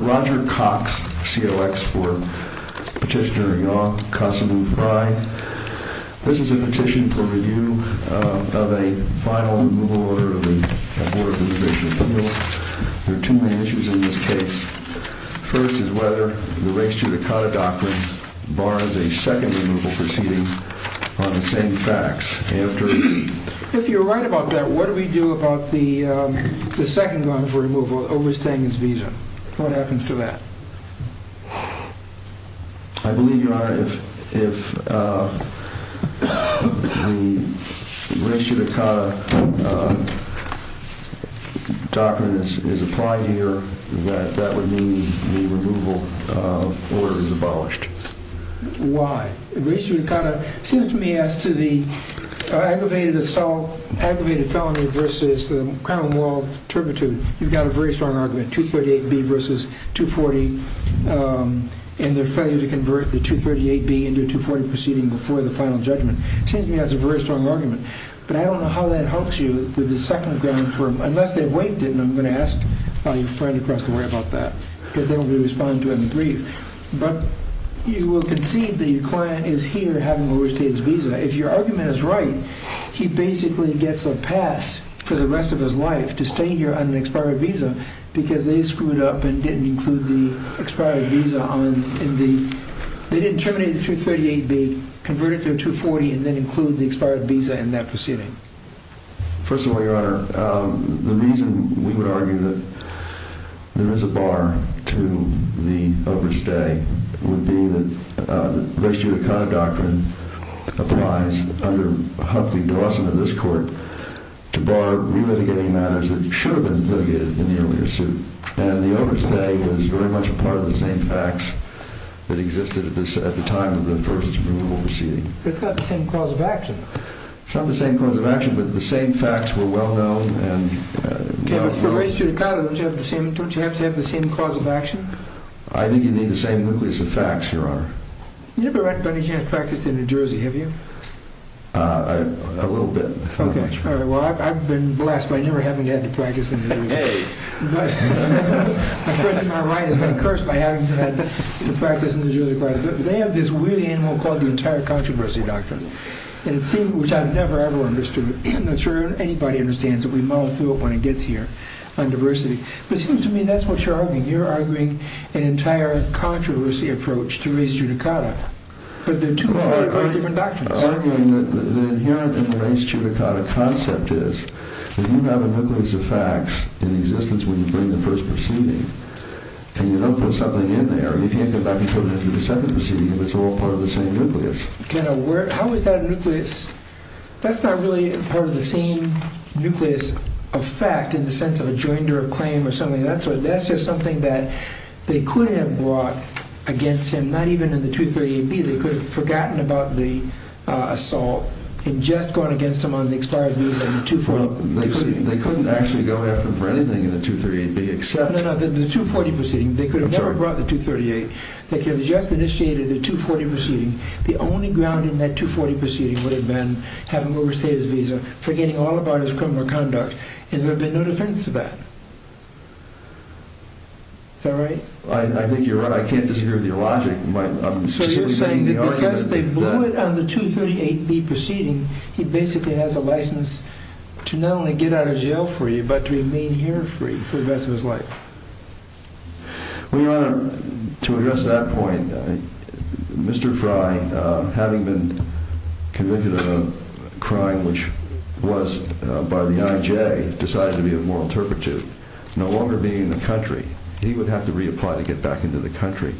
Roger Cox, COX for Petitioner Yaw Kasamu Frye. This is a petition for review of a final removal order of the Board of Reservation Appeals. There are two main issues in this case. First is whether the Res Judicata Doctrine bars a second removal proceeding on the same facts. If you're right about that, what do we do about the second one for removal overstaying his visa? What happens to that? I believe, Your Honor, if the Res Judicata Doctrine is applied here, that that would mean the removal order is abolished. Why? The Res Judicata seems to me as to the aggravated assault, aggravated felony versus the criminal moral turpitude, you've got a very strong argument, 238B versus 240, and their failure to convert the 238B into a 240 proceeding before the final judgment. It seems to me that's a very strong argument. But I don't know how that helps you with the second ground for, unless they've waived it, and I'm going to ask your friend across the way about that, because they will be responding to it in brief. But you will concede that your client is here having overstayed his visa. If your argument is right, he basically gets a pass for the rest of his life to stay here on an expired visa because they screwed up and didn't include the expired visa on the, they didn't terminate the 238B, convert it to a 240, and then include the expired visa in that proceeding. First of all, Your Honor, the reason we would argue that there is a bar to the overstay would be that the Res Judicata doctrine applies under Huffley-Dawson in this court to bar relitigating matters that should have been litigated in the earlier suit. And the overstay was very much a part of the same facts that were well known. It's not the same cause of action, but the same facts were well known. Okay, but for Res Judicata, don't you have to have the same cause of action? I think you need the same nucleus of facts, Your Honor. You've never, by any chance, practiced in New Jersey, have you? A little bit. Okay, all right. Well, I've been blessed by never having to have to practice in New Jersey. Hey! I've heard that my right has been cursed by having to practice in New Jersey quite a bit. They have this weird animal called the Entire Controversy Doctrine, which I've never ever understood. I'm not sure anybody understands it. We muddle through it when it gets here on diversity. But it seems to me that's what you're arguing. You're arguing an entire controversy approach to Res Judicata, but they're two very, very different doctrines. Well, I'm arguing that the inherent in the Res Judicata concept is that you have a nucleus of facts in existence when you bring the first proceeding, and you don't put something in there. You can't go back and put it in the second proceeding if it's all part of the same nucleus. How is that a nucleus? That's not really part of the same nucleus of fact in the sense of a joinder of claim or something of that sort. That's just something that they could have brought against him, not even in the 238B. They could have forgotten about the assault and just gone against him on the expired visa in the 240 proceeding. They couldn't actually go after him for anything in the 238B, except... No, no, no. In the 240 proceeding, they could have never brought the 238. They could have just initiated the 240 proceeding. The only ground in that 240 proceeding would have been having overstayed his visa, forgetting all about his criminal conduct, and there would have been no defense to that. Is that right? I think you're right. I can't disagree with your logic. So you're saying that because they blew it on the 238B proceeding, he basically has a license to not only get out of jail for you but to remain here free for the rest of his life? Well, Your Honor, to address that point, Mr. Fry, having been convicted of a crime which was by the IJ, decided to be a moral turpitude, no longer being in the country, he would have to reapply to get back into the country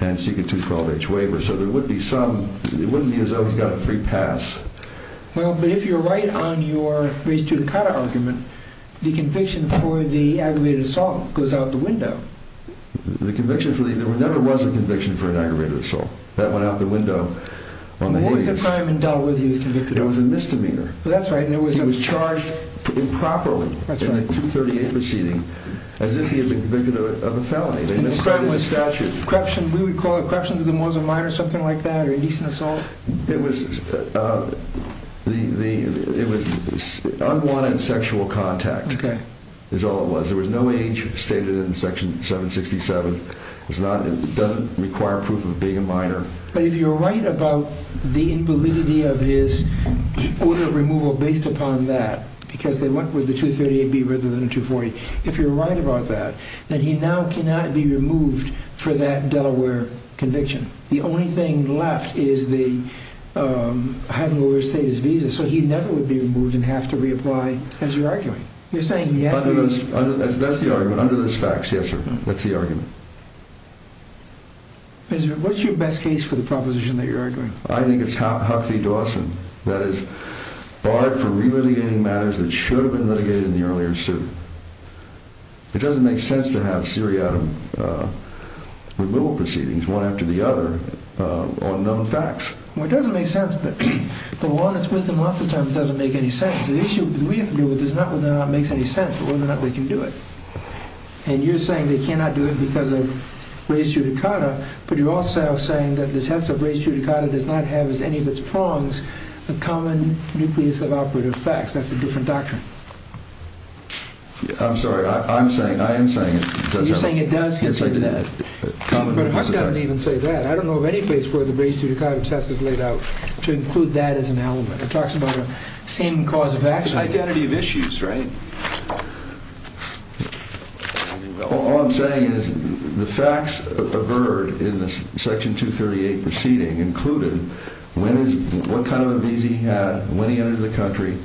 and seek a 212H waiver. So there would be some—it wouldn't be as though he's got a free pass. Well, but if you're right on your raise to the cotta argument, the conviction for the aggravated assault goes out the window. The conviction for the—there never was a conviction for an aggravated assault. That went out the window on the IJs. And what is the crime in Delaware that he was convicted of? It was a misdemeanor. That's right. He was charged improperly in the 238 proceeding as if he had been convicted of a felony. And the crime was— They misstated the statute. We would call it corruptions of the moral mind or something like that, or indecent assault? It was unwanted sexual contact is all it was. There was no age stated in Section 767. It doesn't require proof of being a minor. But if you're right about the invalidity of his order of removal based upon that, because they went with the 238B rather than the 240, if you're right about that, then he now cannot be removed for that Delaware conviction. The only thing left is having the lawyer state his visa, so he never would be removed and have to reapply, as you're arguing. You're saying he has to be— That's the argument. Under those facts, yes, sir. That's the argument. What's your best case for the proposition that you're arguing? I think it's Huckabee Dawson. That is, barred from re-litigating matters that should have been litigated in the earlier suit. It doesn't make sense to have seriatim removal proceedings, one after the other, on known facts. Well, it doesn't make sense, but the one that's with the monster term doesn't make any sense. The issue that we have to deal with is not whether or not it makes any sense, but whether or not we can do it. And you're saying they cannot do it because of res judicata, but you're also saying that the test of res judicata does not have as any of its prongs a common nucleus of operative facts. That's a different doctrine. I'm sorry. I am saying it does have a— You're saying it does have— Yes, I did. But Huck doesn't even say that. I don't know of any place where the res judicata test is laid out to include that as an element. It talks about a same cause of action. It's an identity of issues, right? All I'm saying is the facts averred in the Section 238 proceeding included what kind of a visa he had, when he entered the country,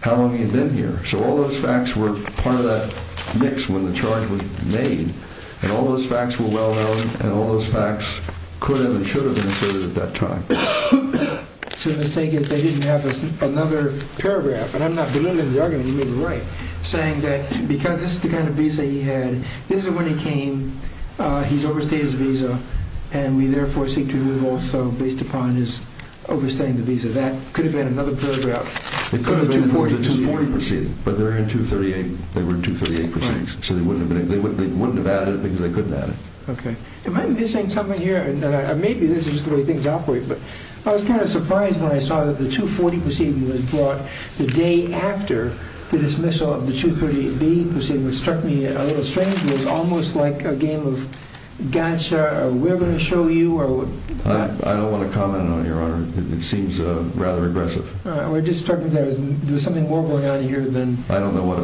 how long he had been here. So all those facts were part of that mix when the charge was made, and all those facts were well known, and all those facts could have and should have been asserted at that time. So the mistake is they didn't have another paragraph, and I'm not belittling the argument, you may be right, saying that because this is the kind of visa he had, this is when he came, he's overstayed his visa, and we therefore seek to remove also based upon his overstaying the visa. That could have been another paragraph. It could have been because it's a 240 proceeding, but they're in 238. They were in 238 proceedings, so they wouldn't have added it because they couldn't add it. Okay. Am I missing something here? Maybe this is just the way things operate, but I was kind of surprised when I saw that the 240 proceeding was brought the day after the dismissal of the 238B proceeding, which struck me a little strange. It was almost like a game of gotcha, or we're going to show you, or what? I don't want to comment on it, Your Honor. It seems rather aggressive. We're just talking about there's something more going on here than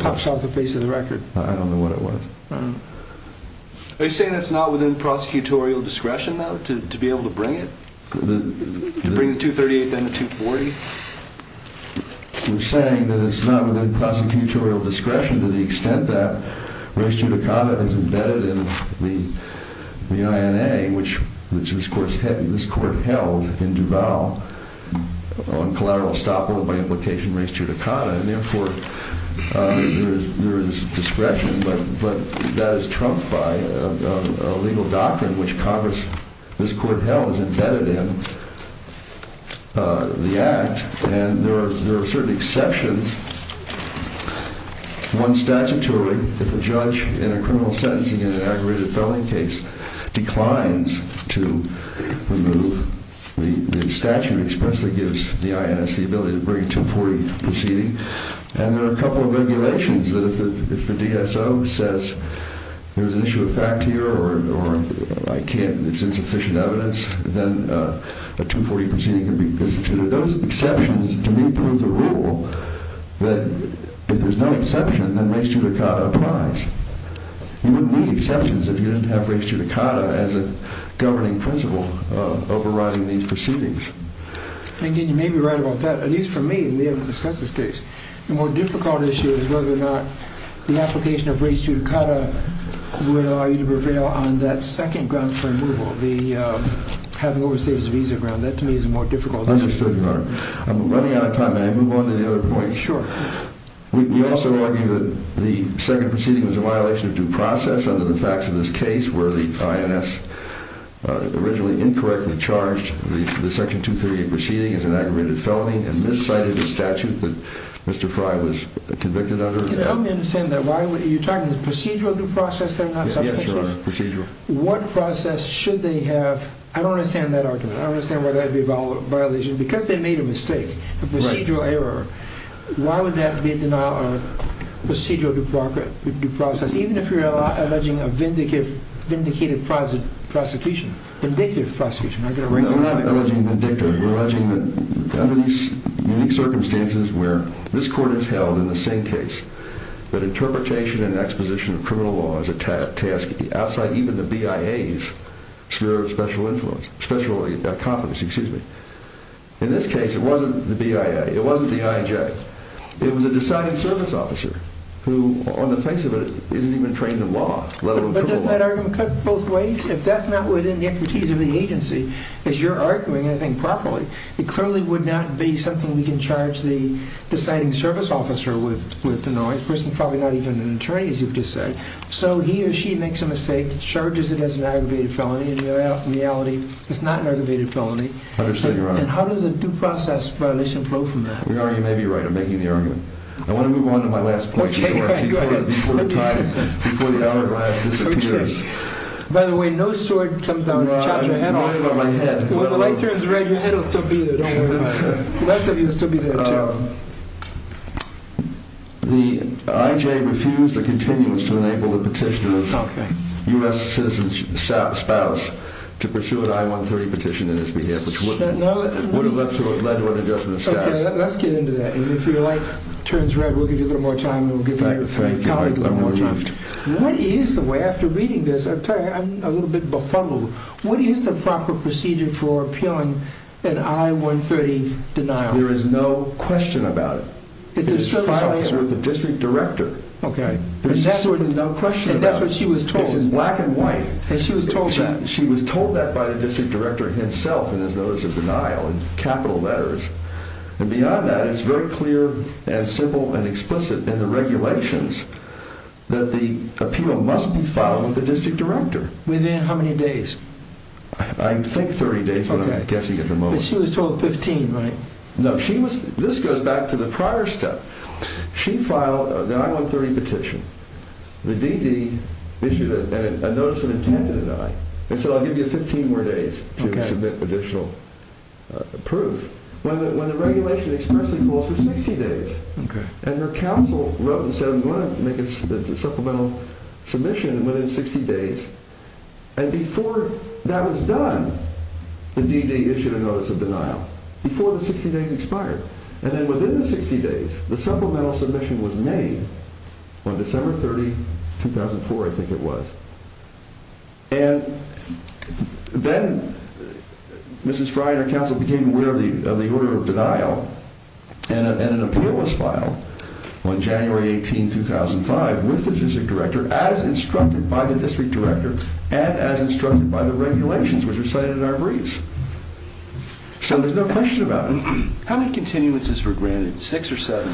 pops off the face of the record. I don't know what it was. Are you saying that's not within prosecutorial discretion, though, to be able to bring it? To bring the 238 thing to 240? We're saying that it's not within prosecutorial discretion to the extent that res judicata is embedded in the INA, which this Court held in Duval on collateral estoppel by implication res judicata, and therefore there is discretion, but that is trumped by a legal doctrine, which this Court held is embedded in the Act, and there are certain exceptions. One statutorily, if a judge in a criminal sentencing in an aggravated felony case declines to remove the statute, it expressly gives the INS the ability to bring a 240 proceeding, and there are a couple of regulations that if the DSO says there's an issue of fact here or it's insufficient evidence, then a 240 proceeding can be instituted. Those exceptions, to me, prove the rule that if there's no exception, then res judicata applies. You wouldn't need exceptions if you didn't have res judicata as a governing principle overriding these proceedings. And, again, you may be right about that. At least for me, we haven't discussed this case. The more difficult issue is whether or not the application of res judicata would allow you to prevail on that second ground for removal, having overstated the visa ground. That, to me, is more difficult. I understand, Your Honor. I'm running out of time. May I move on to the other point? Sure. We also argue that the second proceeding was a violation of due process under the facts of this case where the INS originally incorrectly charged the Section 238 proceeding as an aggravated felony and miscited the statute that Mr. Frey was convicted under. Can you help me understand that? Are you talking procedural due process? Yes, Your Honor. Procedural. What process should they have? I don't understand that argument. I don't understand why that would be a violation. Because they made a mistake, a procedural error, why would that be a denial of procedural due process, even if you're alleging a vindicated prosecution, vindictive prosecution? We're not alleging vindictive. We're alleging that under these unique circumstances where this court has held in the same case that interpretation and exposition of criminal law is a task outside even the BIA's sphere of special influence, special competence, excuse me. In this case, it wasn't the BIA. It wasn't the IJ. It was a decided service officer who, on the face of it, isn't even trained in law, let alone criminal law. But doesn't that argument cut both ways? If that's not within the expertise of the agency, as you're arguing, I think properly, it clearly would not be something we can charge the deciding service officer with the noise, a person probably not even an attorney, as you've just said. So he or she makes a mistake, charges it as an aggravated felony. In reality, it's not an aggravated felony. I understand, Your Honor. And how does a due process violation flow from that? Your Honor, you may be right. I'm making the argument. I want to move on to my last point. Okay, go ahead. Before the hourglass disappears. By the way, no sword comes out if you chop your head off. Well, I'm worried about my head. When the light turns red, your head will still be there. Don't worry. The left of you will still be there, too. The IJ refused a continuance to enable the petitioner's U.S. citizen spouse to pursue an I-130 petition in his behalf, which would have led to an adjustment of status. Okay, let's get into that. And if your light turns red, we'll give you a little more time, and we'll get back to you. Thank you, Your Honor. What is the way, after reading this, I'll tell you, I'm a little bit befuddled. What is the proper procedure for appealing an I-130 denial? There is no question about it. It's filed with the district director. Okay. There's no question about it. And that's what she was told. It's in black and white. And she was told that. She was told that by the district director himself in his notice of denial in capital letters. And beyond that, it's very clear and simple and explicit in the regulations that the appeal must be filed with the district director. Within how many days? I think 30 days, but I'm guessing at the moment. But she was told 15, right? No, this goes back to the prior step. She filed an I-130 petition. The DD issued a notice of intent to deny. And so I'll give you 15 more days to submit additional proof. When the regulation expressly calls for 60 days. And her counsel wrote and said, I'm going to make a supplemental submission within 60 days. And before that was done, the DD issued a notice of denial before the 60 days expired. And then within the 60 days, the supplemental submission was made on December 30, 2004, I think it was. And then Mrs. Fry and her counsel became aware of the order of denial. And an appeal was filed on January 18, 2005, with the district director, as instructed by the district director. And as instructed by the regulations, which are cited in our briefs. So there's no question about it. How many continuances were granted? Six or seven?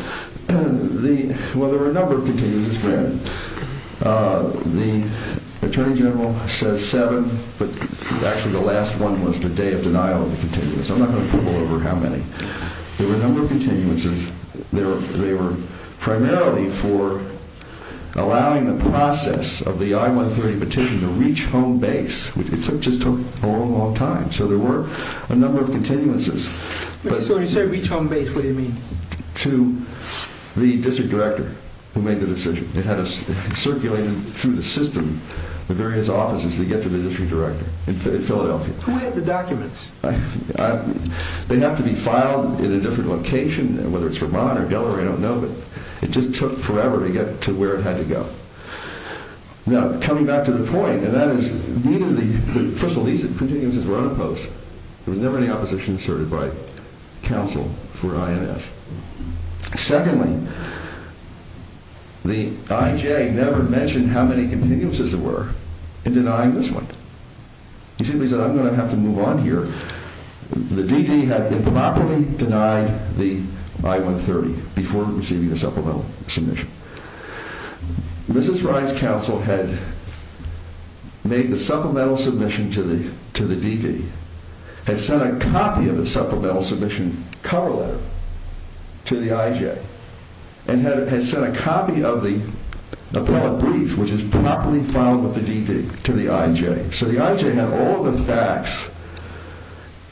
Well, there were a number of continuances granted. The attorney general said seven, but actually the last one was the day of denial of the continuance. I'm not going to pull over how many. There were a number of continuances. They were primarily for allowing the process of the I-130 petition to reach home base. It just took a long, long time. So there were a number of continuances. When you say reach home base, what do you mean? To the district director who made the decision. It had circulated through the system to various offices to get to the district director in Philadelphia. Who had the documents? They have to be filed in a different location, whether it's Vermont or Delaware, I don't know. But it just took forever to get to where it had to go. Now, coming back to the point, and that is, first of all, these continuances were unopposed. There was never any opposition asserted by counsel for INS. Secondly, the IJ never mentioned how many continuances there were in denying this one. He simply said, I'm going to have to move on here. The DD had improperly denied the I-130 before receiving the supplemental submission. Mrs. Rice's counsel had made the supplemental submission to the DD, had sent a copy of the supplemental submission cover letter to the IJ, and had sent a copy of the appellate brief, which is properly filed with the DD, to the IJ. So the IJ had all the facts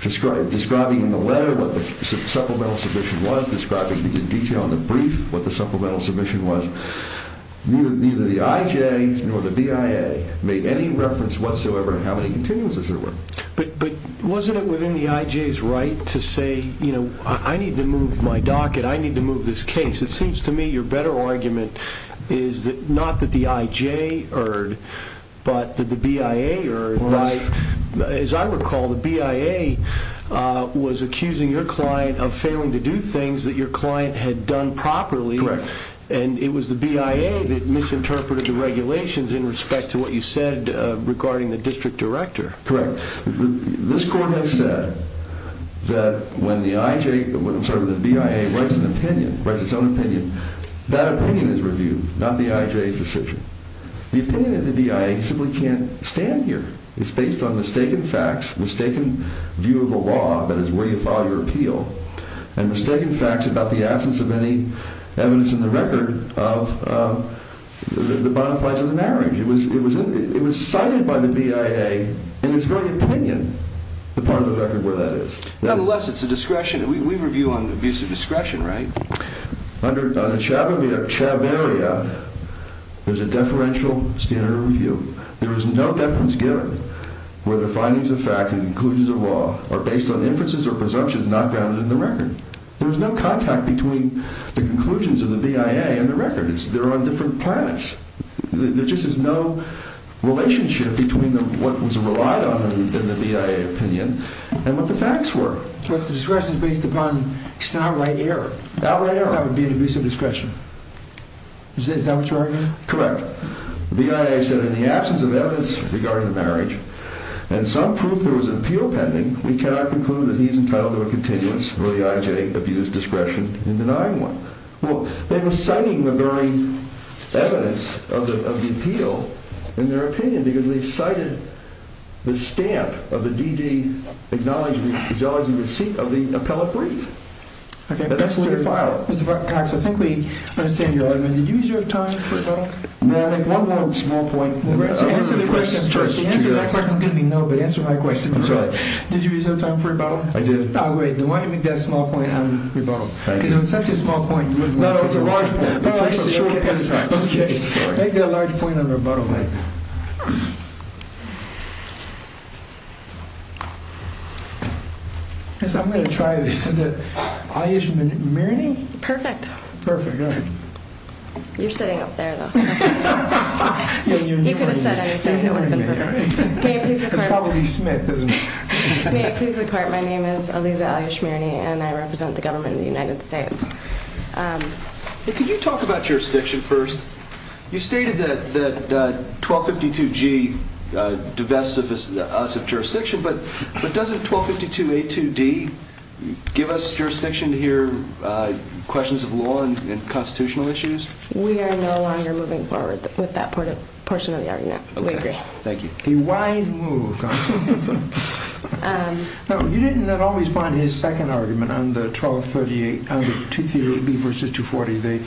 describing in the letter what the supplemental submission was, describing in detail in the brief what the supplemental submission was. Neither the IJ nor the BIA made any reference whatsoever in how many continuances there were. But wasn't it within the IJ's right to say, you know, I need to move my docket, I need to move this case? It seems to me your better argument is not that the IJ erred, but that the BIA erred. As I recall, the BIA was accusing your client of failing to do things that your client had done properly. Correct. And it was the BIA that misinterpreted the regulations in respect to what you said regarding the district director. Correct. This court has said that when the IJ, I'm sorry, when the BIA writes an opinion, writes its own opinion, that opinion is reviewed, not the IJ's decision. The opinion of the BIA simply can't stand here. It's based on mistaken facts, mistaken view of the law, that is where you file your appeal, and mistaken facts about the absence of any evidence in the record of the bonafides of the marriage. It was cited by the BIA in its very opinion, the part of the record where that is. Nonetheless, it's a discretion. We review on abuse of discretion, right? Under chaberia, there's a deferential standard review. There is no deference given where the findings of fact and conclusions of law are based on inferences or presumptions not grounded in the record. There's no contact between the conclusions of the BIA and the record. They're on different planets. There just is no relationship between what was relied on in the BIA opinion and what the facts were. But the discretion is based upon just an outright error. Outright error. That would be an abuse of discretion. Is that what you're arguing? Correct. The BIA said in the absence of evidence regarding the marriage, and some proof there was an appeal pending, we cannot conclude that he is entitled to a continuous or the IJ abused discretion in denying one. Well, they were citing the very evidence of the appeal in their opinion because they cited the stamp of the DD acknowledgment of the appellate brief. Okay. That's the file. Mr. Cox, I think we understand your argument. Did you use your time for rebuttal? No. One more small point. Answer the question first. Answer that question. I'm going to be no, but answer my question first. Did you use your time for rebuttal? I did. Oh, great. Then why don't you make that small point on rebuttal? Because if it's such a small point, you wouldn't want to. No, it's a large point. It's a short point. Okay. Sorry. Make it a large point on rebuttal. I'm going to try this. Is it Alysia Maroney? Perfect. Perfect. All right. You're sitting up there, though. You could have said anything. It's probably Smith, isn't it? May it please the court, my name is Alysia Maroney. And I represent the government of the United States. Could you talk about jurisdiction first? You stated that 1252G divests us of jurisdiction. But doesn't 1252A2D give us jurisdiction to hear questions of law and constitutional issues? We are no longer moving forward with that portion of the argument. We agree. Okay. Thank you. A wise move. You didn't at all respond to his second argument on the 238B versus 240.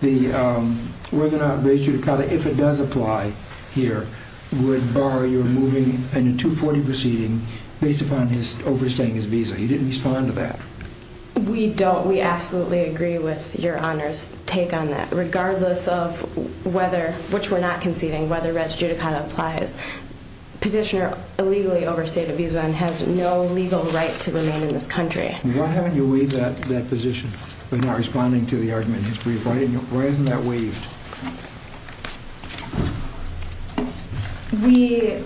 The whether or not res judicata, if it does apply here, would bar your moving in a 240 proceeding based upon overstaying his visa. You didn't respond to that. We don't. We absolutely agree with your Honor's take on that. Regardless of whether, which we're not conceding, whether res judicata applies. This petitioner illegally overstayed a visa and has no legal right to remain in this country. Why haven't you waived that position by not responding to the argument in his brief? Why isn't that waived?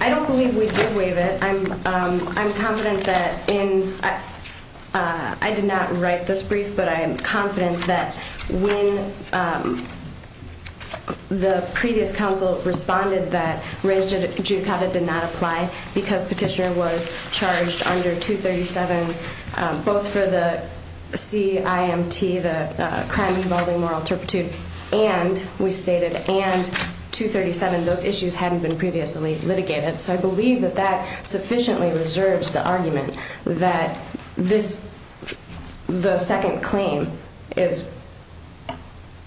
I don't believe we did waive it. I'm confident that in, I did not write this brief, but I am confident that when the previous counsel responded that res judicata did not apply because petitioner was charged under 237, both for the CIMT, the crime involving moral turpitude, and we stated and 237, those issues hadn't been previously litigated. So I believe that that sufficiently reserves the argument that this, the second claim is,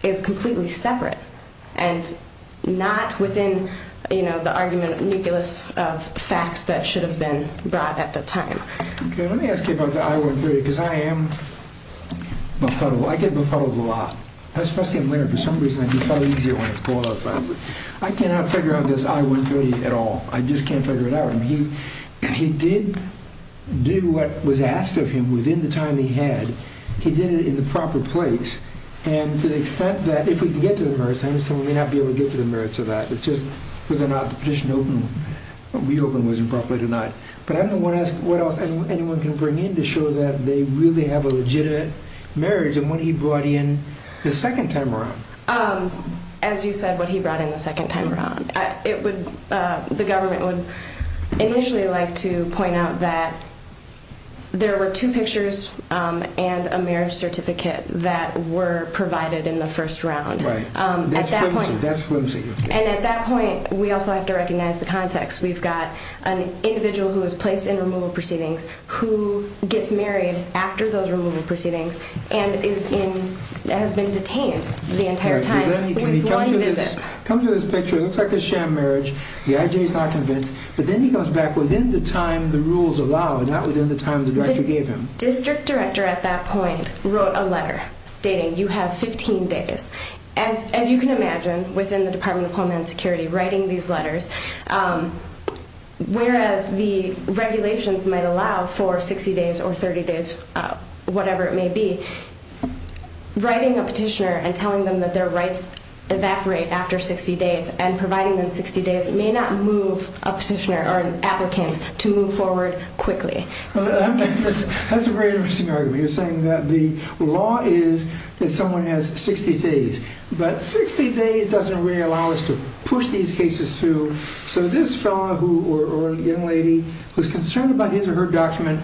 is completely separate and not within, you know, the argument nucleus of facts that should have been brought at the time. Okay, let me ask you about the I-130 because I am befuddled. I get befuddled a lot. Especially, I'm learning, for some reason, I get fuddled easier when it's pulled outside. I cannot figure out this I-130 at all. I just can't figure it out. I mean, he did do what was asked of him within the time he had. He did it in the proper place. And to the extent that if we can get to the merits, I understand we may not be able to get to the merits of that. It's just whether or not the petition opened, reopened was improper or not. But I'm going to ask what else anyone can bring in to show that they really have a legitimate marriage and what he brought in the second time around. As you said, what he brought in the second time around. It would, the government would initially like to point out that there were two pictures and a marriage certificate that were provided in the first round. Right. That's flimsy. And at that point, we also have to recognize the context. We've got an individual who was placed in removal proceedings who gets married after those removal proceedings and is in, has been detained the entire time with one visit. Come to this picture. It looks like a sham marriage. The IJ is not convinced. But then he comes back within the time the rules allow, not within the time the director gave him. The district director at that point wrote a letter stating you have 15 days. As you can imagine, within the Department of Homeland Security, writing these letters, whereas the regulations might allow for 60 days or 30 days, whatever it may be, writing a petitioner and telling them that their rights evaporate after 60 days and providing them 60 days may not move a petitioner or an applicant to move forward quickly. That's a very interesting argument. You're saying that the law is that someone has 60 days. But 60 days doesn't really allow us to push these cases through. So this fellow or young lady who's concerned about his or her document,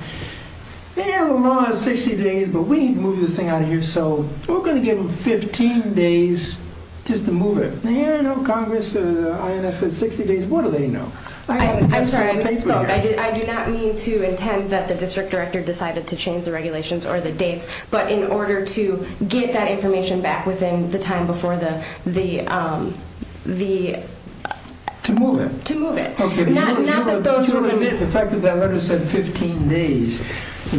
yeah, the law is 60 days, but we need to move this thing out of here. So we're going to give them 15 days just to move it. Yeah, no, Congress or the INS said 60 days. What do they know? I'm sorry. I misspoke. I do not mean to intend that the district director decided to change the regulations or the dates. But in order to get that information back within the time before the... To move it. To move it. Okay. You'll admit the fact that that letter said 15 days,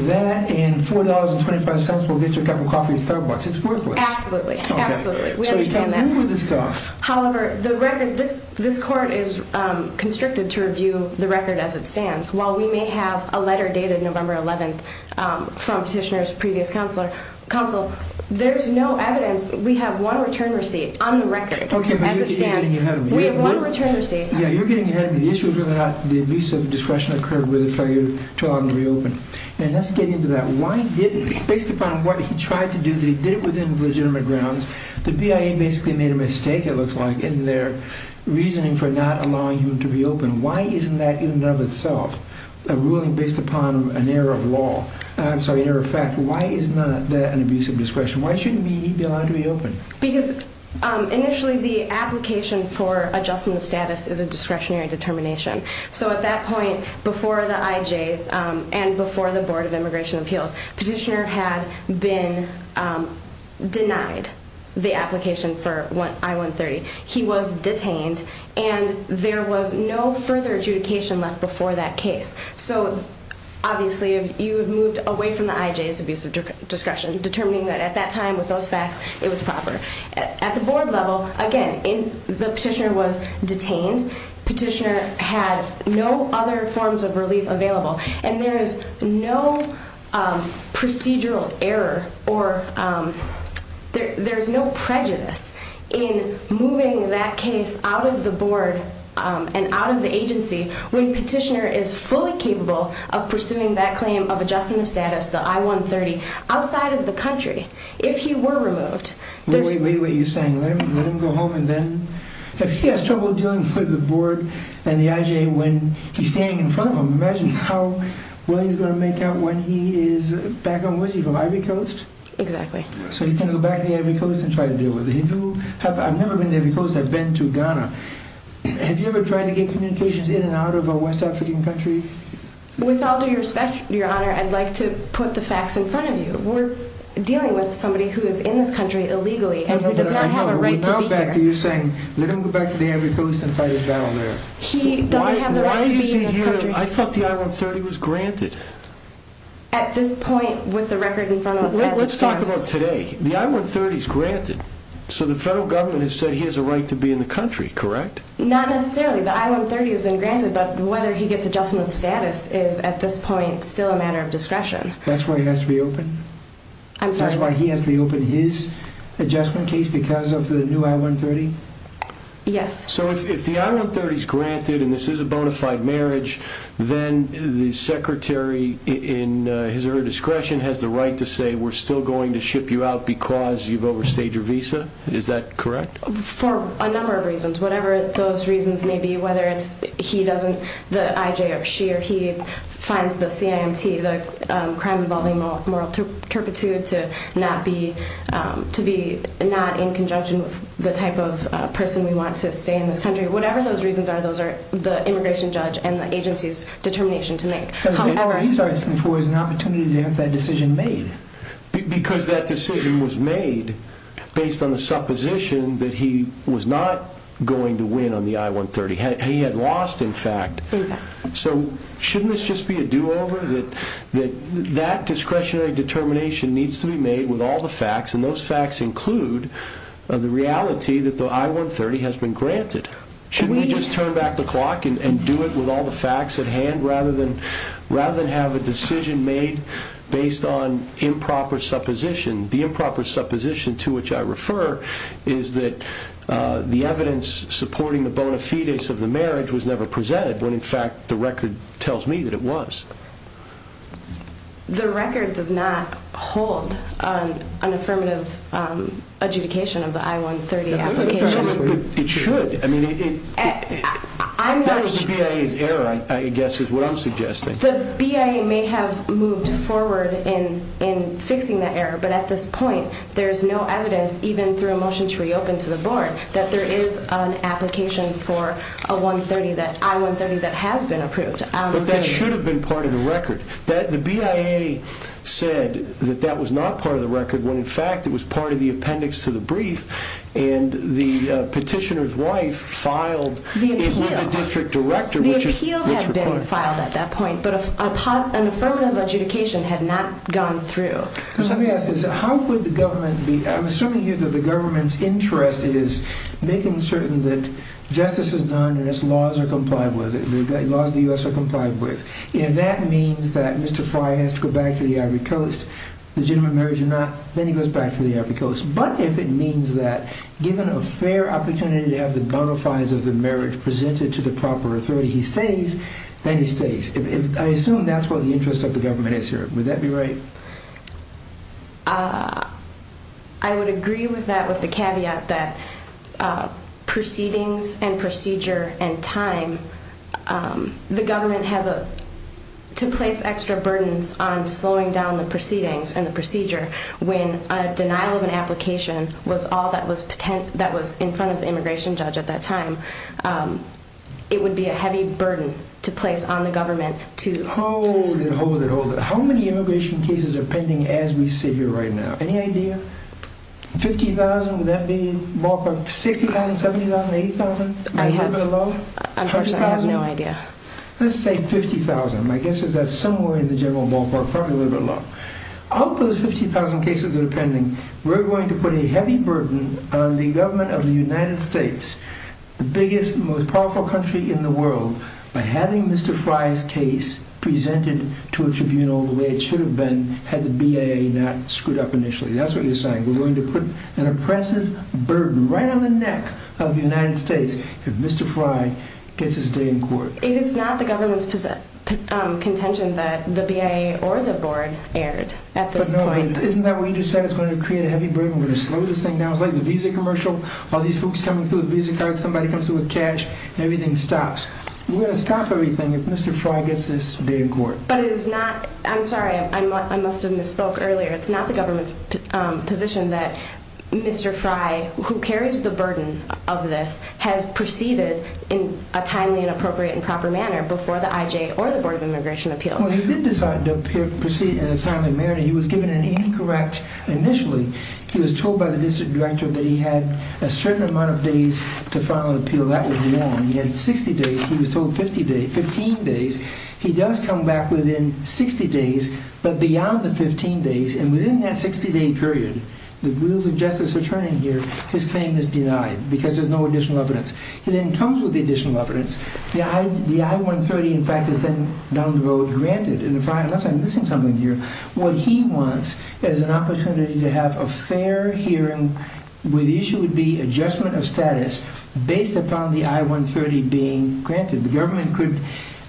that and $4.25 will get you a cup of coffee at Starbucks. It's worthless. Absolutely. Absolutely. We understand that. So you can't move this stuff. However, the record, this court is constricted to review the record as it stands. While we may have a letter dated November 11th from Petitioner's previous counsel, there's no evidence. We have one return receipt on the record as it stands. Okay, but you're getting ahead of me. We have one return receipt. Yeah, you're getting ahead of me. The issue is whether or not the abuse of discretion occurred with the failure to allow him to reopen. And let's get into that. Based upon what he tried to do, that he did it within legitimate grounds, the BIA basically made a mistake. It looks like in their reasoning for not allowing him to reopen. Why isn't that in and of itself a ruling based upon an error of law? I'm sorry, error of fact. Why is not that an abuse of discretion? Why shouldn't he be allowed to reopen? Because initially the application for adjustment of status is a discretionary determination. So at that point, before the IJ and before the Board of Immigration Appeals, Petitioner had been denied the application for I-130. He was detained, and there was no further adjudication left before that case. So obviously you had moved away from the IJ's abuse of discretion, determining that at that time with those facts it was proper. At the Board level, again, the Petitioner was detained. And Petitioner had no other forms of relief available. And there is no procedural error or there's no prejudice in moving that case out of the Board and out of the agency when Petitioner is fully capable of pursuing that claim of adjustment of status, the I-130, outside of the country. If he were removed, there's... Imagine how well he's going to make out when he is back on Whiskey from Ivory Coast. Exactly. So he's going to go back to the Ivory Coast and try to deal with it. I've never been to Ivory Coast. I've been to Ghana. Have you ever tried to get communications in and out of a West African country? With all due respect, Your Honor, I'd like to put the facts in front of you. We're dealing with somebody who is in this country illegally and who does not have a right to be here. Exactly. You're saying, let him go back to the Ivory Coast and fight his battle there. He doesn't have the right to be in this country. I thought the I-130 was granted. At this point, with the record in front of us... Let's talk about today. The I-130 is granted. So the federal government has said he has a right to be in the country, correct? Not necessarily. The I-130 has been granted. But whether he gets adjustment of status is, at this point, still a matter of discretion. That's why he has to be opened? I'm sorry? Is that the current case because of the new I-130? Yes. So if the I-130 is granted and this is a bona fide marriage, then the secretary, in his or her discretion, has the right to say, we're still going to ship you out because you've overstayed your visa? Is that correct? For a number of reasons. Whatever those reasons may be, whether it's he doesn't, the IJ or she or he, finds the CIMT, the crime involving moral turpitude, to be not in conjunction with the type of person we want to stay in this country. Whatever those reasons are, those are the immigration judge and the agency's determination to make. He's asking for an opportunity to have that decision made. Because that decision was made based on the supposition that he was not going to win on the I-130. He had lost, in fact. So shouldn't this just be a do-over? That discretionary determination needs to be made with all the facts, and those facts include the reality that the I-130 has been granted. Shouldn't we just turn back the clock and do it with all the facts at hand rather than have a decision made based on improper supposition? The improper supposition to which I refer is that the evidence supporting the bona fides of the marriage was never presented when, in fact, the record tells me that it was. The record does not hold an affirmative adjudication of the I-130 application. It should. That was the BIA's error, I guess, is what I'm suggesting. The BIA may have moved forward in fixing that error, but at this point there is no evidence, even through a motion to reopen to the board, that there is an application for a I-130 that has been approved. But that should have been part of the record. The BIA said that that was not part of the record when, in fact, it was part of the appendix to the brief, and the petitioner's wife filed it with the district director, which required it. The appeal had been filed at that point, but an affirmative adjudication had not gone through. Let me ask this. I'm assuming here that the government's interest is making certain that justice is done and its laws are complied with, the laws of the U.S. are complied with, and that means that Mr. Fry has to go back to the Ivory Coast, legitimate marriage or not, then he goes back to the Ivory Coast. But if it means that, given a fair opportunity to have the bona fides of the marriage presented to the proper authority, he stays, then he stays. I assume that's what the interest of the government is here. Would that be right? I would agree with that with the caveat that proceedings and procedure and time, the government has to place extra burdens on slowing down the proceedings and the procedure when a denial of an application was all that was in front of the immigration judge at that time. It would be a heavy burden to place on the government to... Hold it, hold it, hold it. How many immigration cases are pending as we sit here right now? Any idea? 50,000, would that be ballpark? 60,000, 70,000, 80,000? I have no idea. Let's say 50,000. My guess is that's somewhere in the general ballpark, probably a little bit low. Of those 50,000 cases that are pending, we're going to put a heavy burden on the government of the United States, the biggest, most powerful country in the world, by having Mr. Fry's case presented to a tribunal the way it should have been had the BAA not screwed up initially. That's what you're saying. We're going to put an oppressive burden right on the neck of the United States if Mr. Fry gets his day in court. It is not the government's contention that the BAA or the board erred at this point. Isn't that what you just said? It's going to create a heavy burden, we're going to slow this thing down. It sounds like the visa commercial, all these folks coming through with visa cards, somebody comes in with cash, everything stops. We're going to stop everything if Mr. Fry gets his day in court. But it is not, I'm sorry, I must have misspoke earlier, it's not the government's position that Mr. Fry, who carries the burden of this, has proceeded in a timely and appropriate and proper manner before the IJ or the Board of Immigration Appeals. Well, he did decide to proceed in a timely manner. He was given an incorrect initially. He was told by the district director that he had a certain amount of days to file an appeal. That was wrong. He had 60 days, he was told 15 days. He does come back within 60 days, but beyond the 15 days, and within that 60-day period, the rules of justice are turning here, his claim is denied because there's no additional evidence. He then comes with the additional evidence. The I-130, in fact, is then down the road granted. And unless I'm missing something here, what he wants is an opportunity to have a fair hearing where the issue would be adjustment of status based upon the I-130 being granted. The government could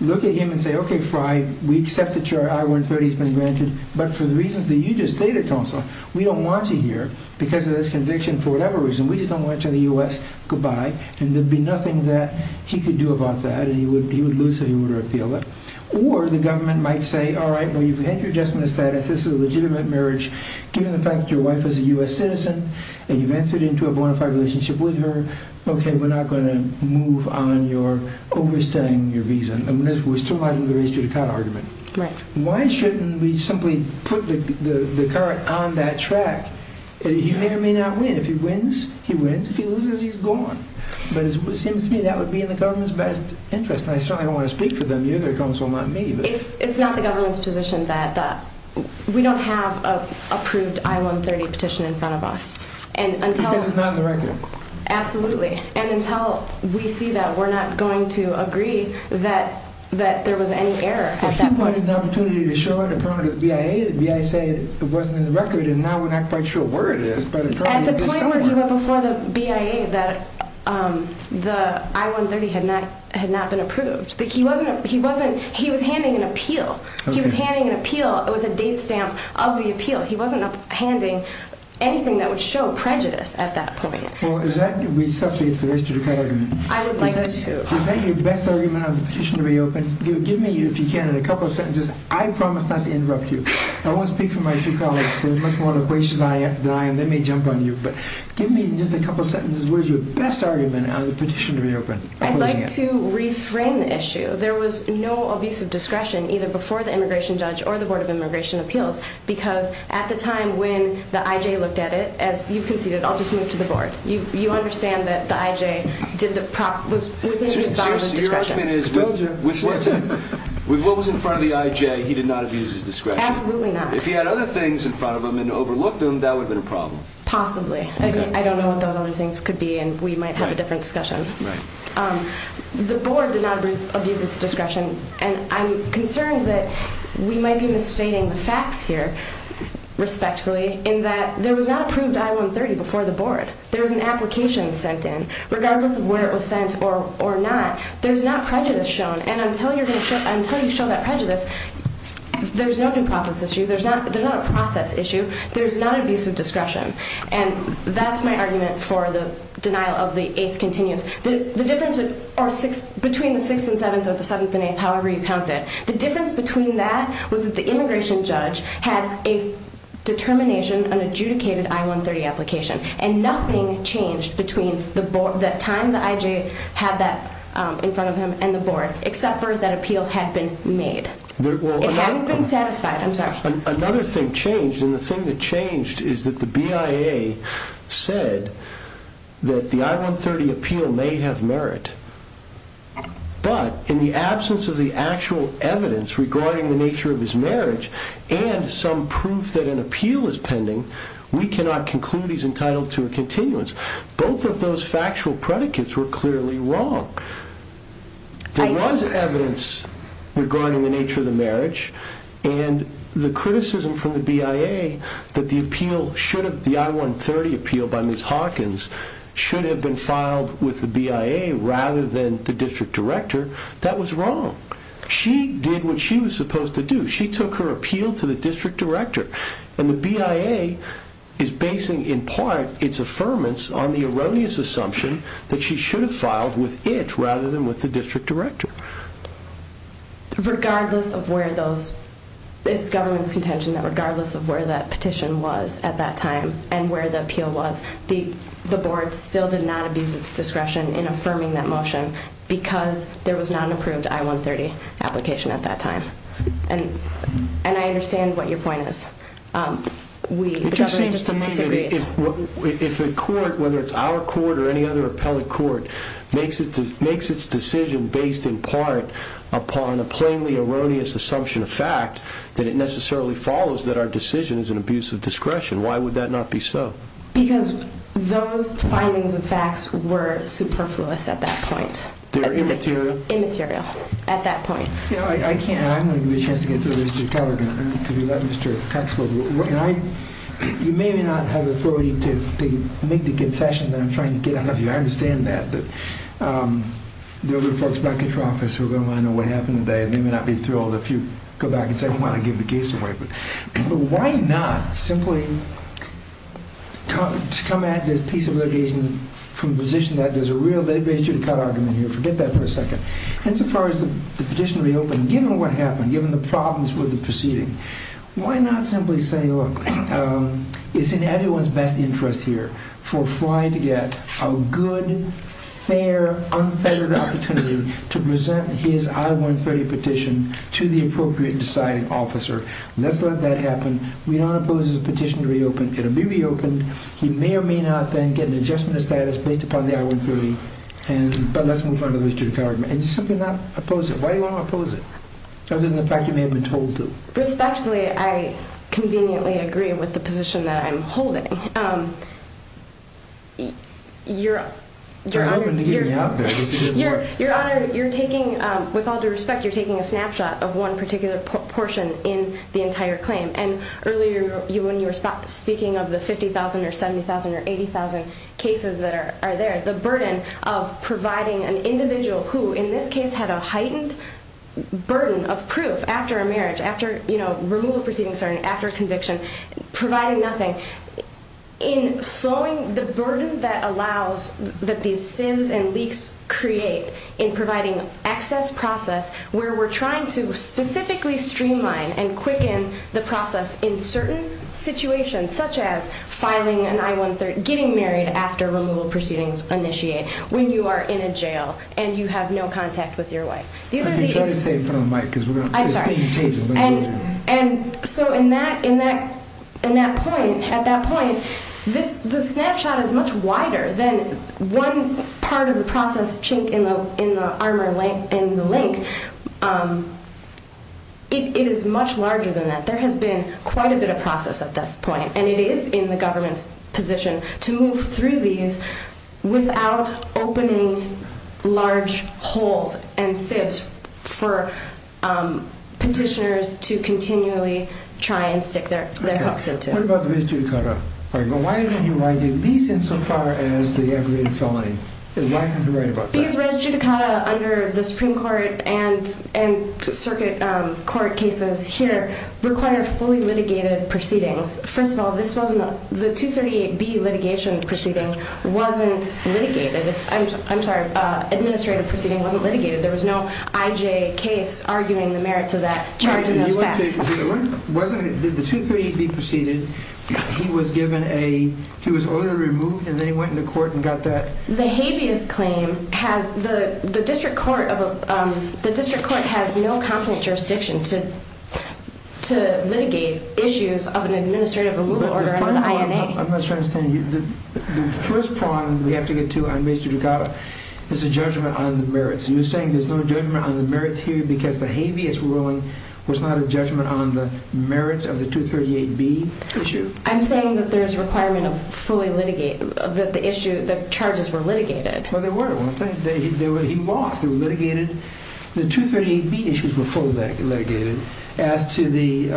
look at him and say, okay, Fry, we accept that your I-130 has been granted, but for the reasons that you just stated, Consul, we don't want you here because of this conviction for whatever reason. We just don't want you in the U.S., goodbye. And there'd be nothing that he could do about that, and he would lose his order of appeal. Or the government might say, all right, well, you've had your adjustment of status. This is a legitimate marriage. Given the fact that your wife is a U.S. citizen and you've entered into a bona fide relationship with her, okay, we're not going to move on your overstaying your visa. And we're still fighting the race to the car argument. Why shouldn't we simply put the car on that track? He may or may not win. If he wins, he wins. If he loses, he's gone. But it seems to me that would be in the government's best interest, and I certainly don't want to speak for them either, Consul, not me. It's not the government's position that we don't have an approved I-130 petition in front of us. Because it's not in the record. Absolutely. And until we see that, we're not going to agree that there was any error at that point. If he wanted an opportunity to show it in front of the BIA, the BIA would say it wasn't in the record, and now we're not quite sure where it is. At the point where he went before the BIA that the I-130 had not been approved, he was handing an appeal. He was handing an appeal with a date stamp of the appeal. He wasn't handing anything that would show prejudice at that point. Well, is that going to be subject to the race to the car argument? I would like to. Is that your best argument on the petition to reopen? Give me, if you can, a couple of sentences. I promise not to interrupt you. I won't speak for my two colleagues. There's much more to the question than I am. They may jump on you. But give me just a couple of sentences. What is your best argument on the petition to reopen? I'd like to reframe the issue. There was no abusive discretion either before the immigration judge or the Board of Immigration Appeals because at the time when the IJ looked at it, as you conceded, I'll just move to the Board. You understand that the IJ was within his bounds of discretion. Seriously, your argument is with what was in front of the IJ, he did not abuse his discretion. Absolutely not. If he had other things in front of him and overlooked them, that would have been a problem. Possibly. I don't know what those other things could be, and we might have a different discussion. The Board did not abuse its discretion, and I'm concerned that we might be misstating the facts here, respectfully, in that there was not approved I-130 before the Board. There was an application sent in. Regardless of where it was sent or not, there's not prejudice shown. And until you show that prejudice, there's no due process issue. There's not a process issue. There's not an abuse of discretion. And that's my argument for the denial of the 8th continuance. The difference between the 6th and 7th or the 7th and 8th, however you count it, the difference between that was that the immigration judge had a determination, an adjudicated I-130 application, and nothing changed between the time the IJ had that in front of him and the Board, except for that appeal had been made. It hadn't been satisfied. I'm sorry. Another thing changed, and the thing that changed is that the BIA said that the I-130 appeal may have merit, but in the absence of the actual evidence regarding the nature of his marriage and some proof that an appeal is pending, we cannot conclude he's entitled to a continuance. Both of those factual predicates were clearly wrong. There was evidence regarding the nature of the marriage, and the criticism from the BIA that the appeal should have, the I-130 appeal by Ms. Hawkins, should have been filed with the BIA rather than the district director, that was wrong. She did what she was supposed to do. She took her appeal to the district director, and the BIA is basing in part its affirmance on the erroneous assumption that she should have filed with it rather than with the district director. Regardless of where this government's contention, regardless of where that petition was at that time and where the appeal was, the board still did not abuse its discretion in affirming that motion because there was not an approved I-130 application at that time. And I understand what your point is. It just seems to me that if a court, whether it's our court or any other appellate court, makes its decision based in part upon a plainly erroneous assumption of fact that it necessarily follows that our decision is an abuse of discretion, why would that not be so? Because those findings and facts were superfluous at that point. They were immaterial? Immaterial, at that point. I'm going to give you a chance to get through this. You may or may not have the authority to make the concession that I'm trying to get out of you. I understand that. But there will be folks back at your office who are going to want to know what happened today and they may not be thrilled if you go back and say, well, I gave the case away. But why not simply come at this piece of litigation from the position that there's a real lay-based judicata argument here? Forget that for a second. Insofar as the petition reopened, given what happened, given the problems with the proceeding, why not simply say, look, it's in everyone's best interest here for Fry to get a good, fair, unfettered opportunity to present his I-130 petition to the appropriate deciding officer. Let's let that happen. We don't oppose his petition to reopen. It will be reopened. He may or may not then get an adjustment of status based upon the I-130. But let's move on to the judicata argument. And you're simply not opposing it. Why do you want to oppose it? Other than the fact you may have been told to. Respectfully, I conveniently agree with the position that I'm holding. Your Honor, you're taking, with all due respect, you're taking a snapshot of one particular portion in the entire claim. And earlier when you were speaking of the 50,000 or 70,000 or 80,000 cases that are there, the burden of providing an individual who in this case had a heightened burden of proof after a marriage, after removal proceedings, after conviction, providing nothing, in slowing the burden that allows that these sieves and leaks create in providing access process where we're trying to specifically streamline and quicken the process in certain situations such as filing an I-130, getting married after removal proceedings initiate, when you are in a jail and you have no contact with your wife. I've been trying to stay in front of the mic because it's being taped. I'm sorry. And so in that point, at that point, the snapshot is much wider than one part of the process chink in the armor link. It is much larger than that. There has been quite a bit of process at this point, and it is in the government's position to move through these without opening large holes and sieves for petitioners to continually try and stick their hooks into. Okay. What about the res judicata? Why isn't he writing these in so far as the aggravated felony? Why isn't he writing about that? Because res judicata under the Supreme Court and circuit court cases here require fully litigated proceedings. First of all, the 238B litigation proceeding wasn't litigated. I'm sorry. Administrative proceeding wasn't litigated. There was no IJ case arguing the merits of that charge in those facts. Wait a minute. The 238B proceeding, he was given a, he was ordered to remove, and then he went into court and got that? The habeas claim has, the district court has no confident jurisdiction to litigate issues of an administrative removal order on the INA. I'm not sure I understand you. The first prong we have to get to on res judicata is a judgment on the merits. You're saying there's no judgment on the merits here because the habeas ruling was not a judgment on the merits of the 238B issue? I'm saying that there's a requirement of fully litigate, that the issue, the charges were litigated. Well, they were at one time. They were, he walked through, litigated. The 238B issues were fully litigated as to the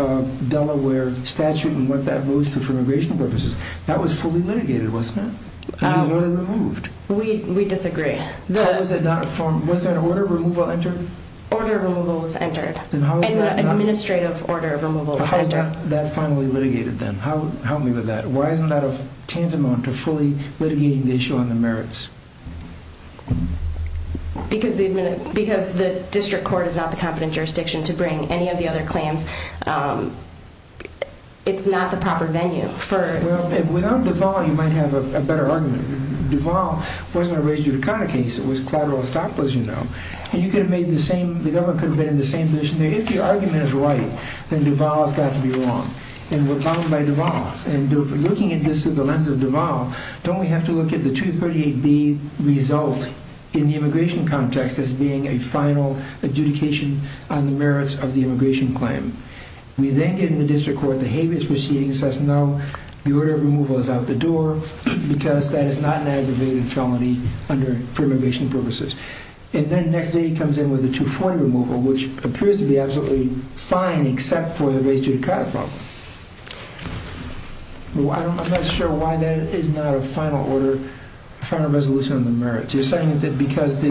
Delaware statute and what that goes to for immigration purposes. That was fully litigated, wasn't it? It was order removed. We disagree. How was it not, was that order removal entered? Order removal was entered. In the administrative order, removal was entered. How is that finally litigated then? Help me with that. Why isn't that a tantamount to fully litigating the issue on the merits? Because the district court is not the competent jurisdiction to bring any of the other claims. It's not the proper venue. Without Duval, you might have a better argument. Duval wasn't a res judicata case. It was collateral estoppel, as you know. The government could have been in the same position. If your argument is right, then Duval has got to be wrong. We're bound by Duval. Looking at this through the lens of Duval, don't we have to look at the 238B result in the immigration context as being a final adjudication on the merits of the immigration claim? We then get into the district court. The habeas proceeding says, no, the order of removal is out the door because that is not an aggravated felony for immigration purposes. Then the next day he comes in with a 240 removal, which appears to be absolutely fine except for the res judicata problem. I'm not sure why that is not a final order, a final resolution on the merits. You're saying that because the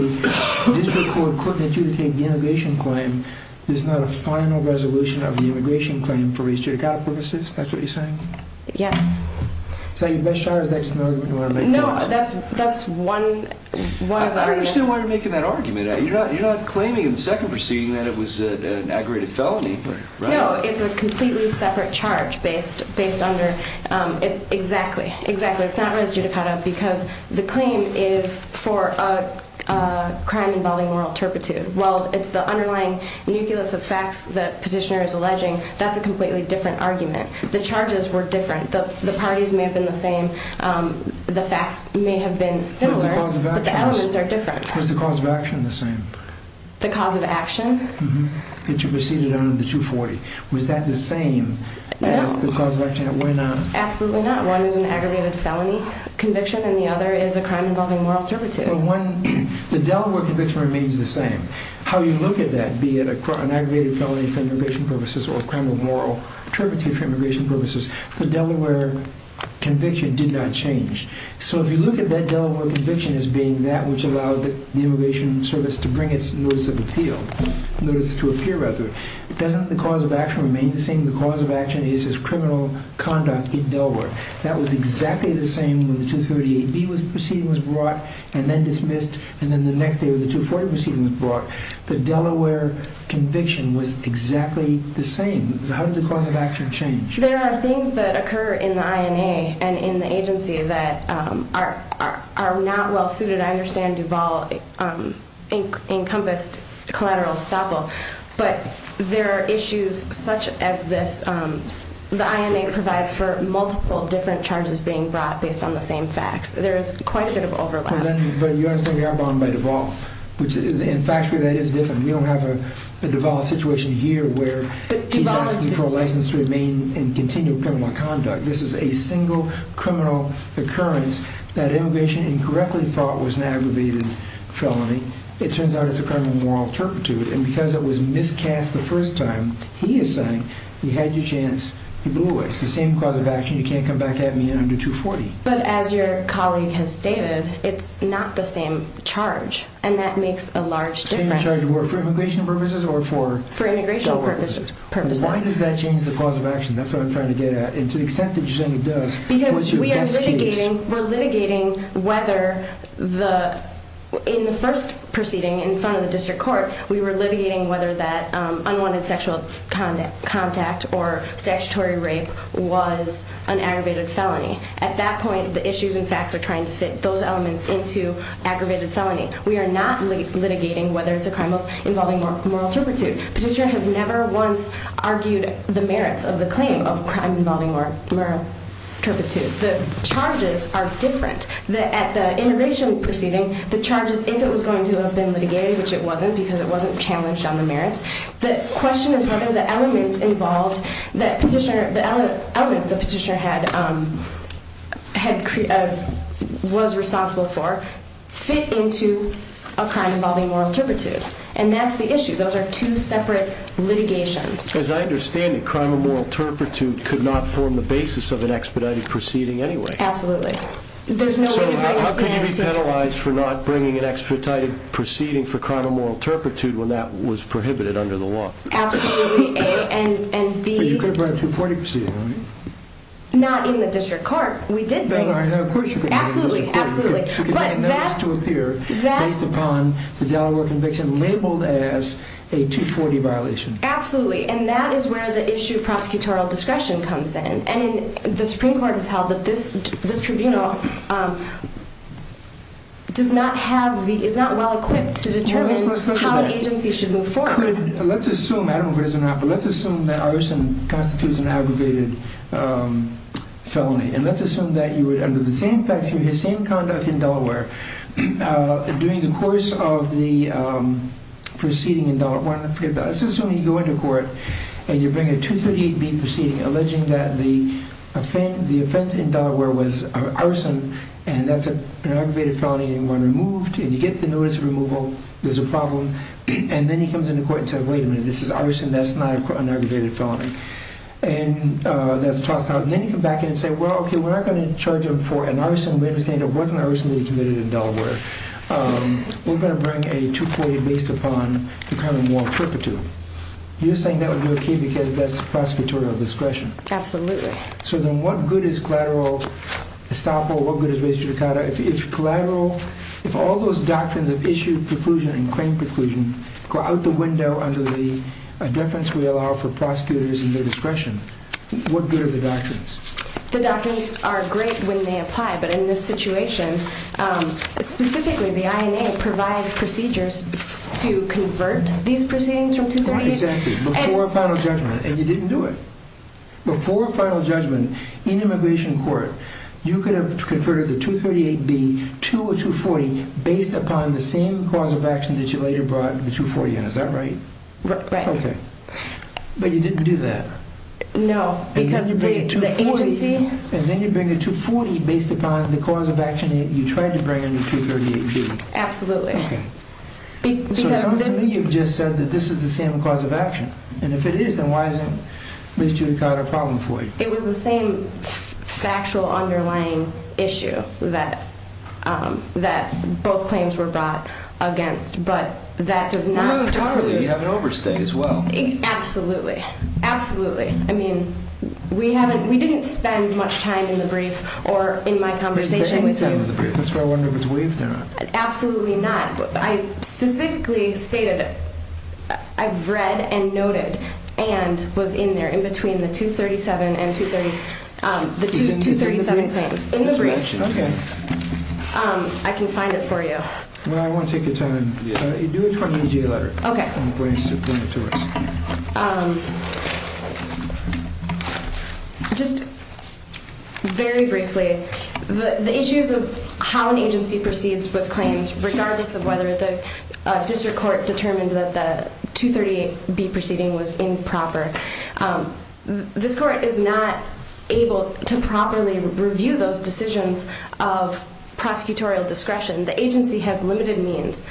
district court couldn't adjudicate the immigration claim, there's not a final resolution of the immigration claim for res judicata purposes? That's what you're saying? Yes. Is that your best shot, or is that just an argument you want to make? No, that's one argument. I understand why you're making that argument. You're not claiming in the second proceeding that it was an aggravated felony. No, it's a completely separate charge based under— exactly, exactly. It's not res judicata because the claim is for a crime involving moral turpitude. While it's the underlying nucleus of facts the petitioner is alleging, that's a completely different argument. The charges were different. The parties may have been the same. The facts may have been similar, but the elements are different. Was the cause of action the same? The cause of action? That you proceeded under 240. Was that the same as the cause of action? No. Why not? Absolutely not. One is an aggravated felony conviction, and the other is a crime involving moral turpitude. The Delaware conviction remains the same. How you look at that, be it an aggravated felony for immigration purposes or a crime of moral turpitude for immigration purposes, the Delaware conviction did not change. So if you look at that Delaware conviction as being that which allowed the immigration service to bring its notice of appeal, notice to appeal rather, doesn't the cause of action remain the same? The cause of action is criminal conduct in Delaware. That was exactly the same when the 238B proceeding was brought and then dismissed and then the next day when the 240 proceeding was brought. The Delaware conviction was exactly the same. So how did the cause of action change? There are things that occur in the INA and in the agency that are not well suited. I understand Duval encompassed collateral estoppel, but there are issues such as this. The INA provides for multiple different charges being brought based on the same facts. There is quite a bit of overlap. But you understand we are bound by Duval, and factually that is different. We don't have a Duval situation here where he's asking for a license to remain and continue criminal conduct. This is a single criminal occurrence that immigration incorrectly thought was an aggravated felony. It turns out it's a criminal moral turpitude, and because it was miscast the first time, he is saying he had your chance, he blew it. It's the same cause of action, you can't come back at me under 240. But as your colleague has stated, it's not the same charge, and that makes a large difference. The same charge for immigration purposes or for Delaware purposes? For immigration purposes. Why does that change the cause of action? That's what I'm trying to get at. And to the extent that you're saying it does, what's your best case? Because we are litigating whether in the first proceeding in front of the district court, we were litigating whether that unwanted sexual contact or statutory rape was an aggravated felony. At that point, the issues and facts are trying to fit those elements into aggravated felony. We are not litigating whether it's a crime involving moral turpitude. Petitioner has never once argued the merits of the claim of crime involving moral turpitude. The charges are different. At the immigration proceeding, the charges, if it was going to have been litigated, which it wasn't because it wasn't challenged on the merits, the question is whether the elements the petitioner was responsible for fit into a crime involving moral turpitude. And that's the issue. Those are two separate litigations. As I understand it, crime of moral turpitude could not form the basis of an expedited proceeding anyway. Absolutely. So how could you be penalized for not bringing an expedited proceeding for crime of moral turpitude when that was prohibited under the law? Absolutely. A. And B. But you could have brought a 240 proceeding, right? Not in the district court. We did bring it. Of course you could have brought a 240. Absolutely. But that's to appear based upon the Delaware conviction labeled as a 240 violation. Absolutely. And that is where the issue of prosecutorial discretion comes in. And the Supreme Court has held that this tribunal does not have the, is not well equipped to determine how an agency should move forward. Let's assume, I don't know if it is or not, but let's assume that arson constitutes an aggravated felony. And let's assume that you would, under the same facts, under the same conduct in Delaware, during the course of the proceeding in Delaware, let's assume you go into court and you bring a 238B proceeding alleging that the offense in Delaware was arson and that's an aggravated felony and one removed. And you get the notice of removal, there's a problem, and then he comes into court and says, wait a minute, this is arson, that's not an aggravated felony. And that's tossed out. And then you come back in and say, well, okay, we're not going to charge him for an arson. We understand it wasn't arson that he committed in Delaware. We're going to bring a 240 based upon the common law purported to. You're saying that would be okay because that's the prosecutorial discretion. Absolutely. So then what good is collateral estoppel? What good is res judicata? If collateral, if all those doctrines of issue preclusion and claim preclusion go out the window under the deference we allow for prosecutors and their discretion, what good are the doctrines? The doctrines are great when they apply, but in this situation, specifically the INA provides procedures to convert these proceedings from 238. Exactly. Before final judgment, and you didn't do it. Before final judgment in immigration court, you could have converted the 238B to a 240 based upon the same cause of action that you later brought the 240 in. Is that right? Right. Okay. But you didn't do that. No, because the agency... And then you bring a 240 based upon the cause of action you tried to bring in the 238B. Absolutely. Okay. So it sounds to me you've just said that this is the same cause of action, and if it is, then why isn't res judicata a problem for you? It was the same factual underlying issue that both claims were brought against, but that does not preclude... Absolutely. Absolutely. I mean, we didn't spend much time in the brief or in my conversation with you. That's why I wonder if it's waived or not. Absolutely not. I specifically stated it. I've read and noted and was in there in between the 237 and 230, the 237 claims. In the brief. Okay. I can find it for you. Well, I won't take your time. Do it for the EJ letter. Okay. Just very briefly, the issues of how an agency proceeds with claims, regardless of whether the district court determined that the 238B proceeding was improper, this court is not able to properly review those decisions of prosecutorial discretion. The agency has limited means.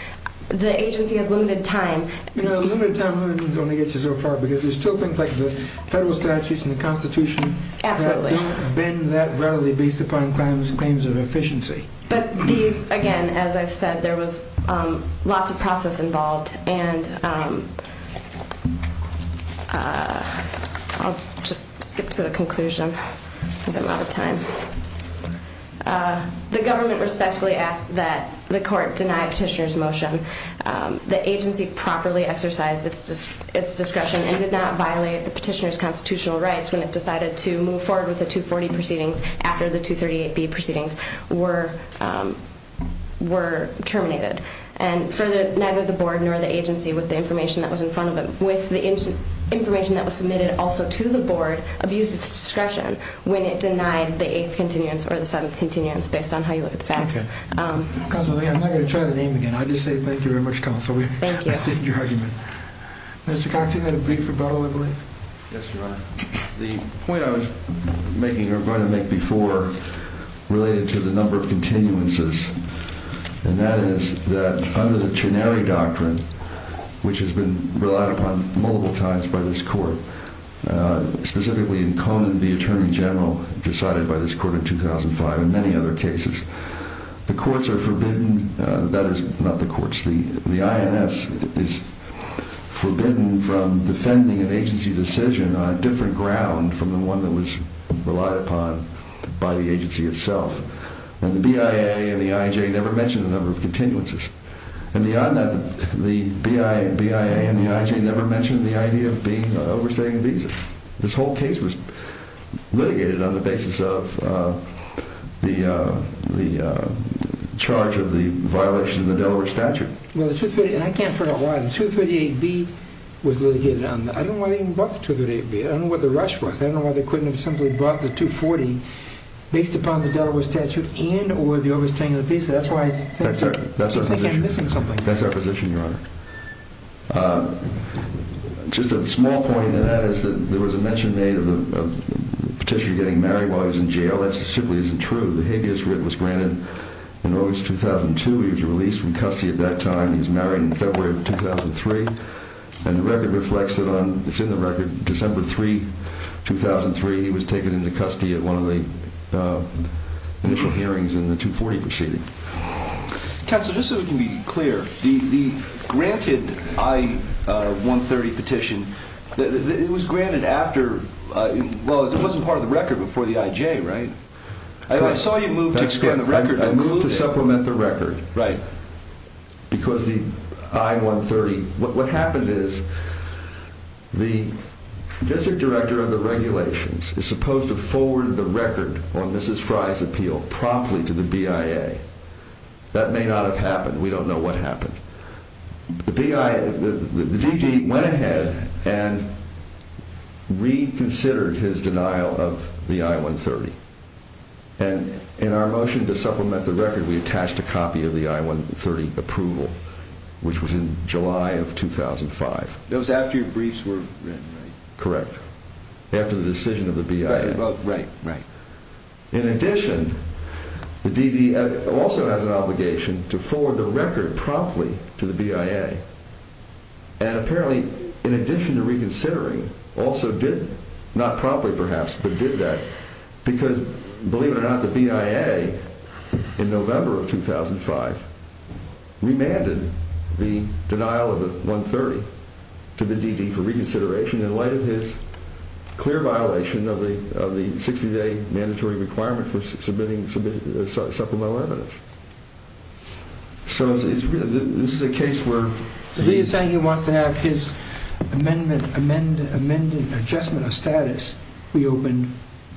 The agency has limited time. You know, limited time, limited means only gets you so far because there's still things like the federal statutes and the Constitution... Absolutely. ...that have been that rarely based upon claims of efficiency. But these, again, as I've said, there was lots of process involved, and I'll just skip to the conclusion because I'm out of time. The government respectfully asks that the court deny petitioner's motion. The agency properly exercised its discretion and did not violate the petitioner's constitutional rights when it decided to move forward with the 240 proceedings after the 238B proceedings were terminated. And further, neither the board nor the agency, with the information that was in front of them, with the information that was submitted also to the board, abused its discretion when it denied the 8th continuance or the 7th continuance, based on how you look at the facts. Okay. Counsel, I'm not going to try the name again. I'll just say thank you very much, counsel. Thank you. I appreciate your argument. Mr. Cox, you had a brief rebuttal, I believe? Yes, Your Honor. The point I was making or going to make before related to the number of continuances, and that is that under the Chenery Doctrine, which has been relied upon multiple times by this court, specifically in Conan v. Attorney General, decided by this court in 2005 and many other cases, the courts are forbidden. That is not the courts. The INS is forbidden from defending an agency decision on a different ground from the one that was relied upon by the agency itself. And the BIA and the IJ never mentioned the number of continuances. And beyond that, the BIA and the IJ never mentioned the idea of overstaying the visa. This whole case was litigated on the basis of the charge of the violation of the Delaware statute. Well, the 238, and I can't figure out why, the 238B was litigated. I don't know why they even brought the 238B. I don't know what the rush was. I don't know why they couldn't have simply brought the 240 based upon the Delaware statute and or the overstaying of the visa. That's why I think I'm missing something here. That's our position, Your Honor. Just a small point in that is that there was a mention made of the petitioner getting married while he was in jail. That simply isn't true. The habeas writ was granted in August 2002. He was released from custody at that time. He was married in February of 2003. And the record reflects that on December 3, 2003, he was taken into custody at one of the initial hearings in the 240 proceeding. Counselor, just so we can be clear, the granted I-130 petition, it was granted after, well, it wasn't part of the record before the IJ, right? I saw you move to expand the record. That's correct. I moved to supplement the record. Right. Because the I-130, what happened is the district director of the regulations is supposed to forward the record on Mrs. Frye's appeal promptly to the BIA. That may not have happened. We don't know what happened. The BIA, the DD went ahead and reconsidered his denial of the I-130. And in our motion to supplement the record, we attached a copy of the I-130 approval, which was in July of 2005. That was after your briefs were written, right? Correct. After the decision of the BIA. Right, right, right. In addition, the DD also has an obligation to forward the record promptly to the BIA. And apparently, in addition to reconsidering, also did, not promptly perhaps, but did that because, believe it or not, the BIA, in November of 2005, remanded the denial of the I-130 to the DD for reconsideration in light of his clear violation of the 60-day mandatory requirement for submitting supplemental evidence. So this is a case where he is saying he wants to have his amendment adjustment of status reopened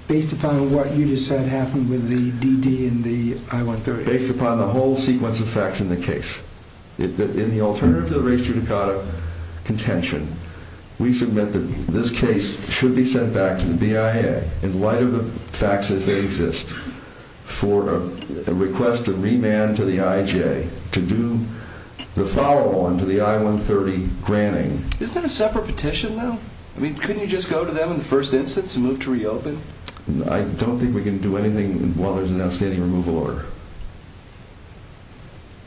based upon what you just said happened with the DD and the I-130. Based upon the whole sequence of facts in the case. In the alternative to the race to Dakota contention, we submit that this case should be sent back to the BIA in light of the facts as they exist for a request to remand to the IJ to do the follow-on to the I-130 granting. Isn't that a separate petition, though? I mean, couldn't you just go to them in the first instance and move to reopen? I don't think we can do anything while there's an outstanding removal order.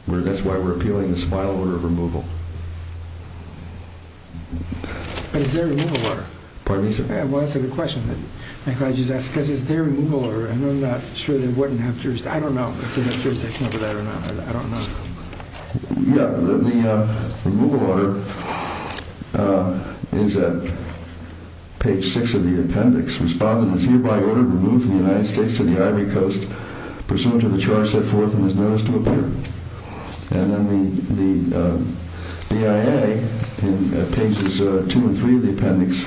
That's why we're appealing this final order of removal. But is there a removal order? Pardon me, sir? Well, that's a good question. I'm glad you asked because is there a removal order? And I'm not sure they wouldn't have jurisdiction. I don't know if they have jurisdiction over that or not. I don't know. Yeah. The removal order is at page 6 of the appendix. Respondent is hereby ordered to move from the United States to the Ivory Coast pursuant to the charge set forth and is noticed to appear. And then the BIA, in pages 2 and 3 of the appendix,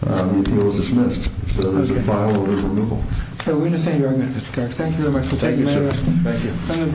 the appeal is dismissed. So there's a final order of removal. We understand your argument, Mr. Cox. Thank you very much for taking the time. Thank you, sir. Thank you.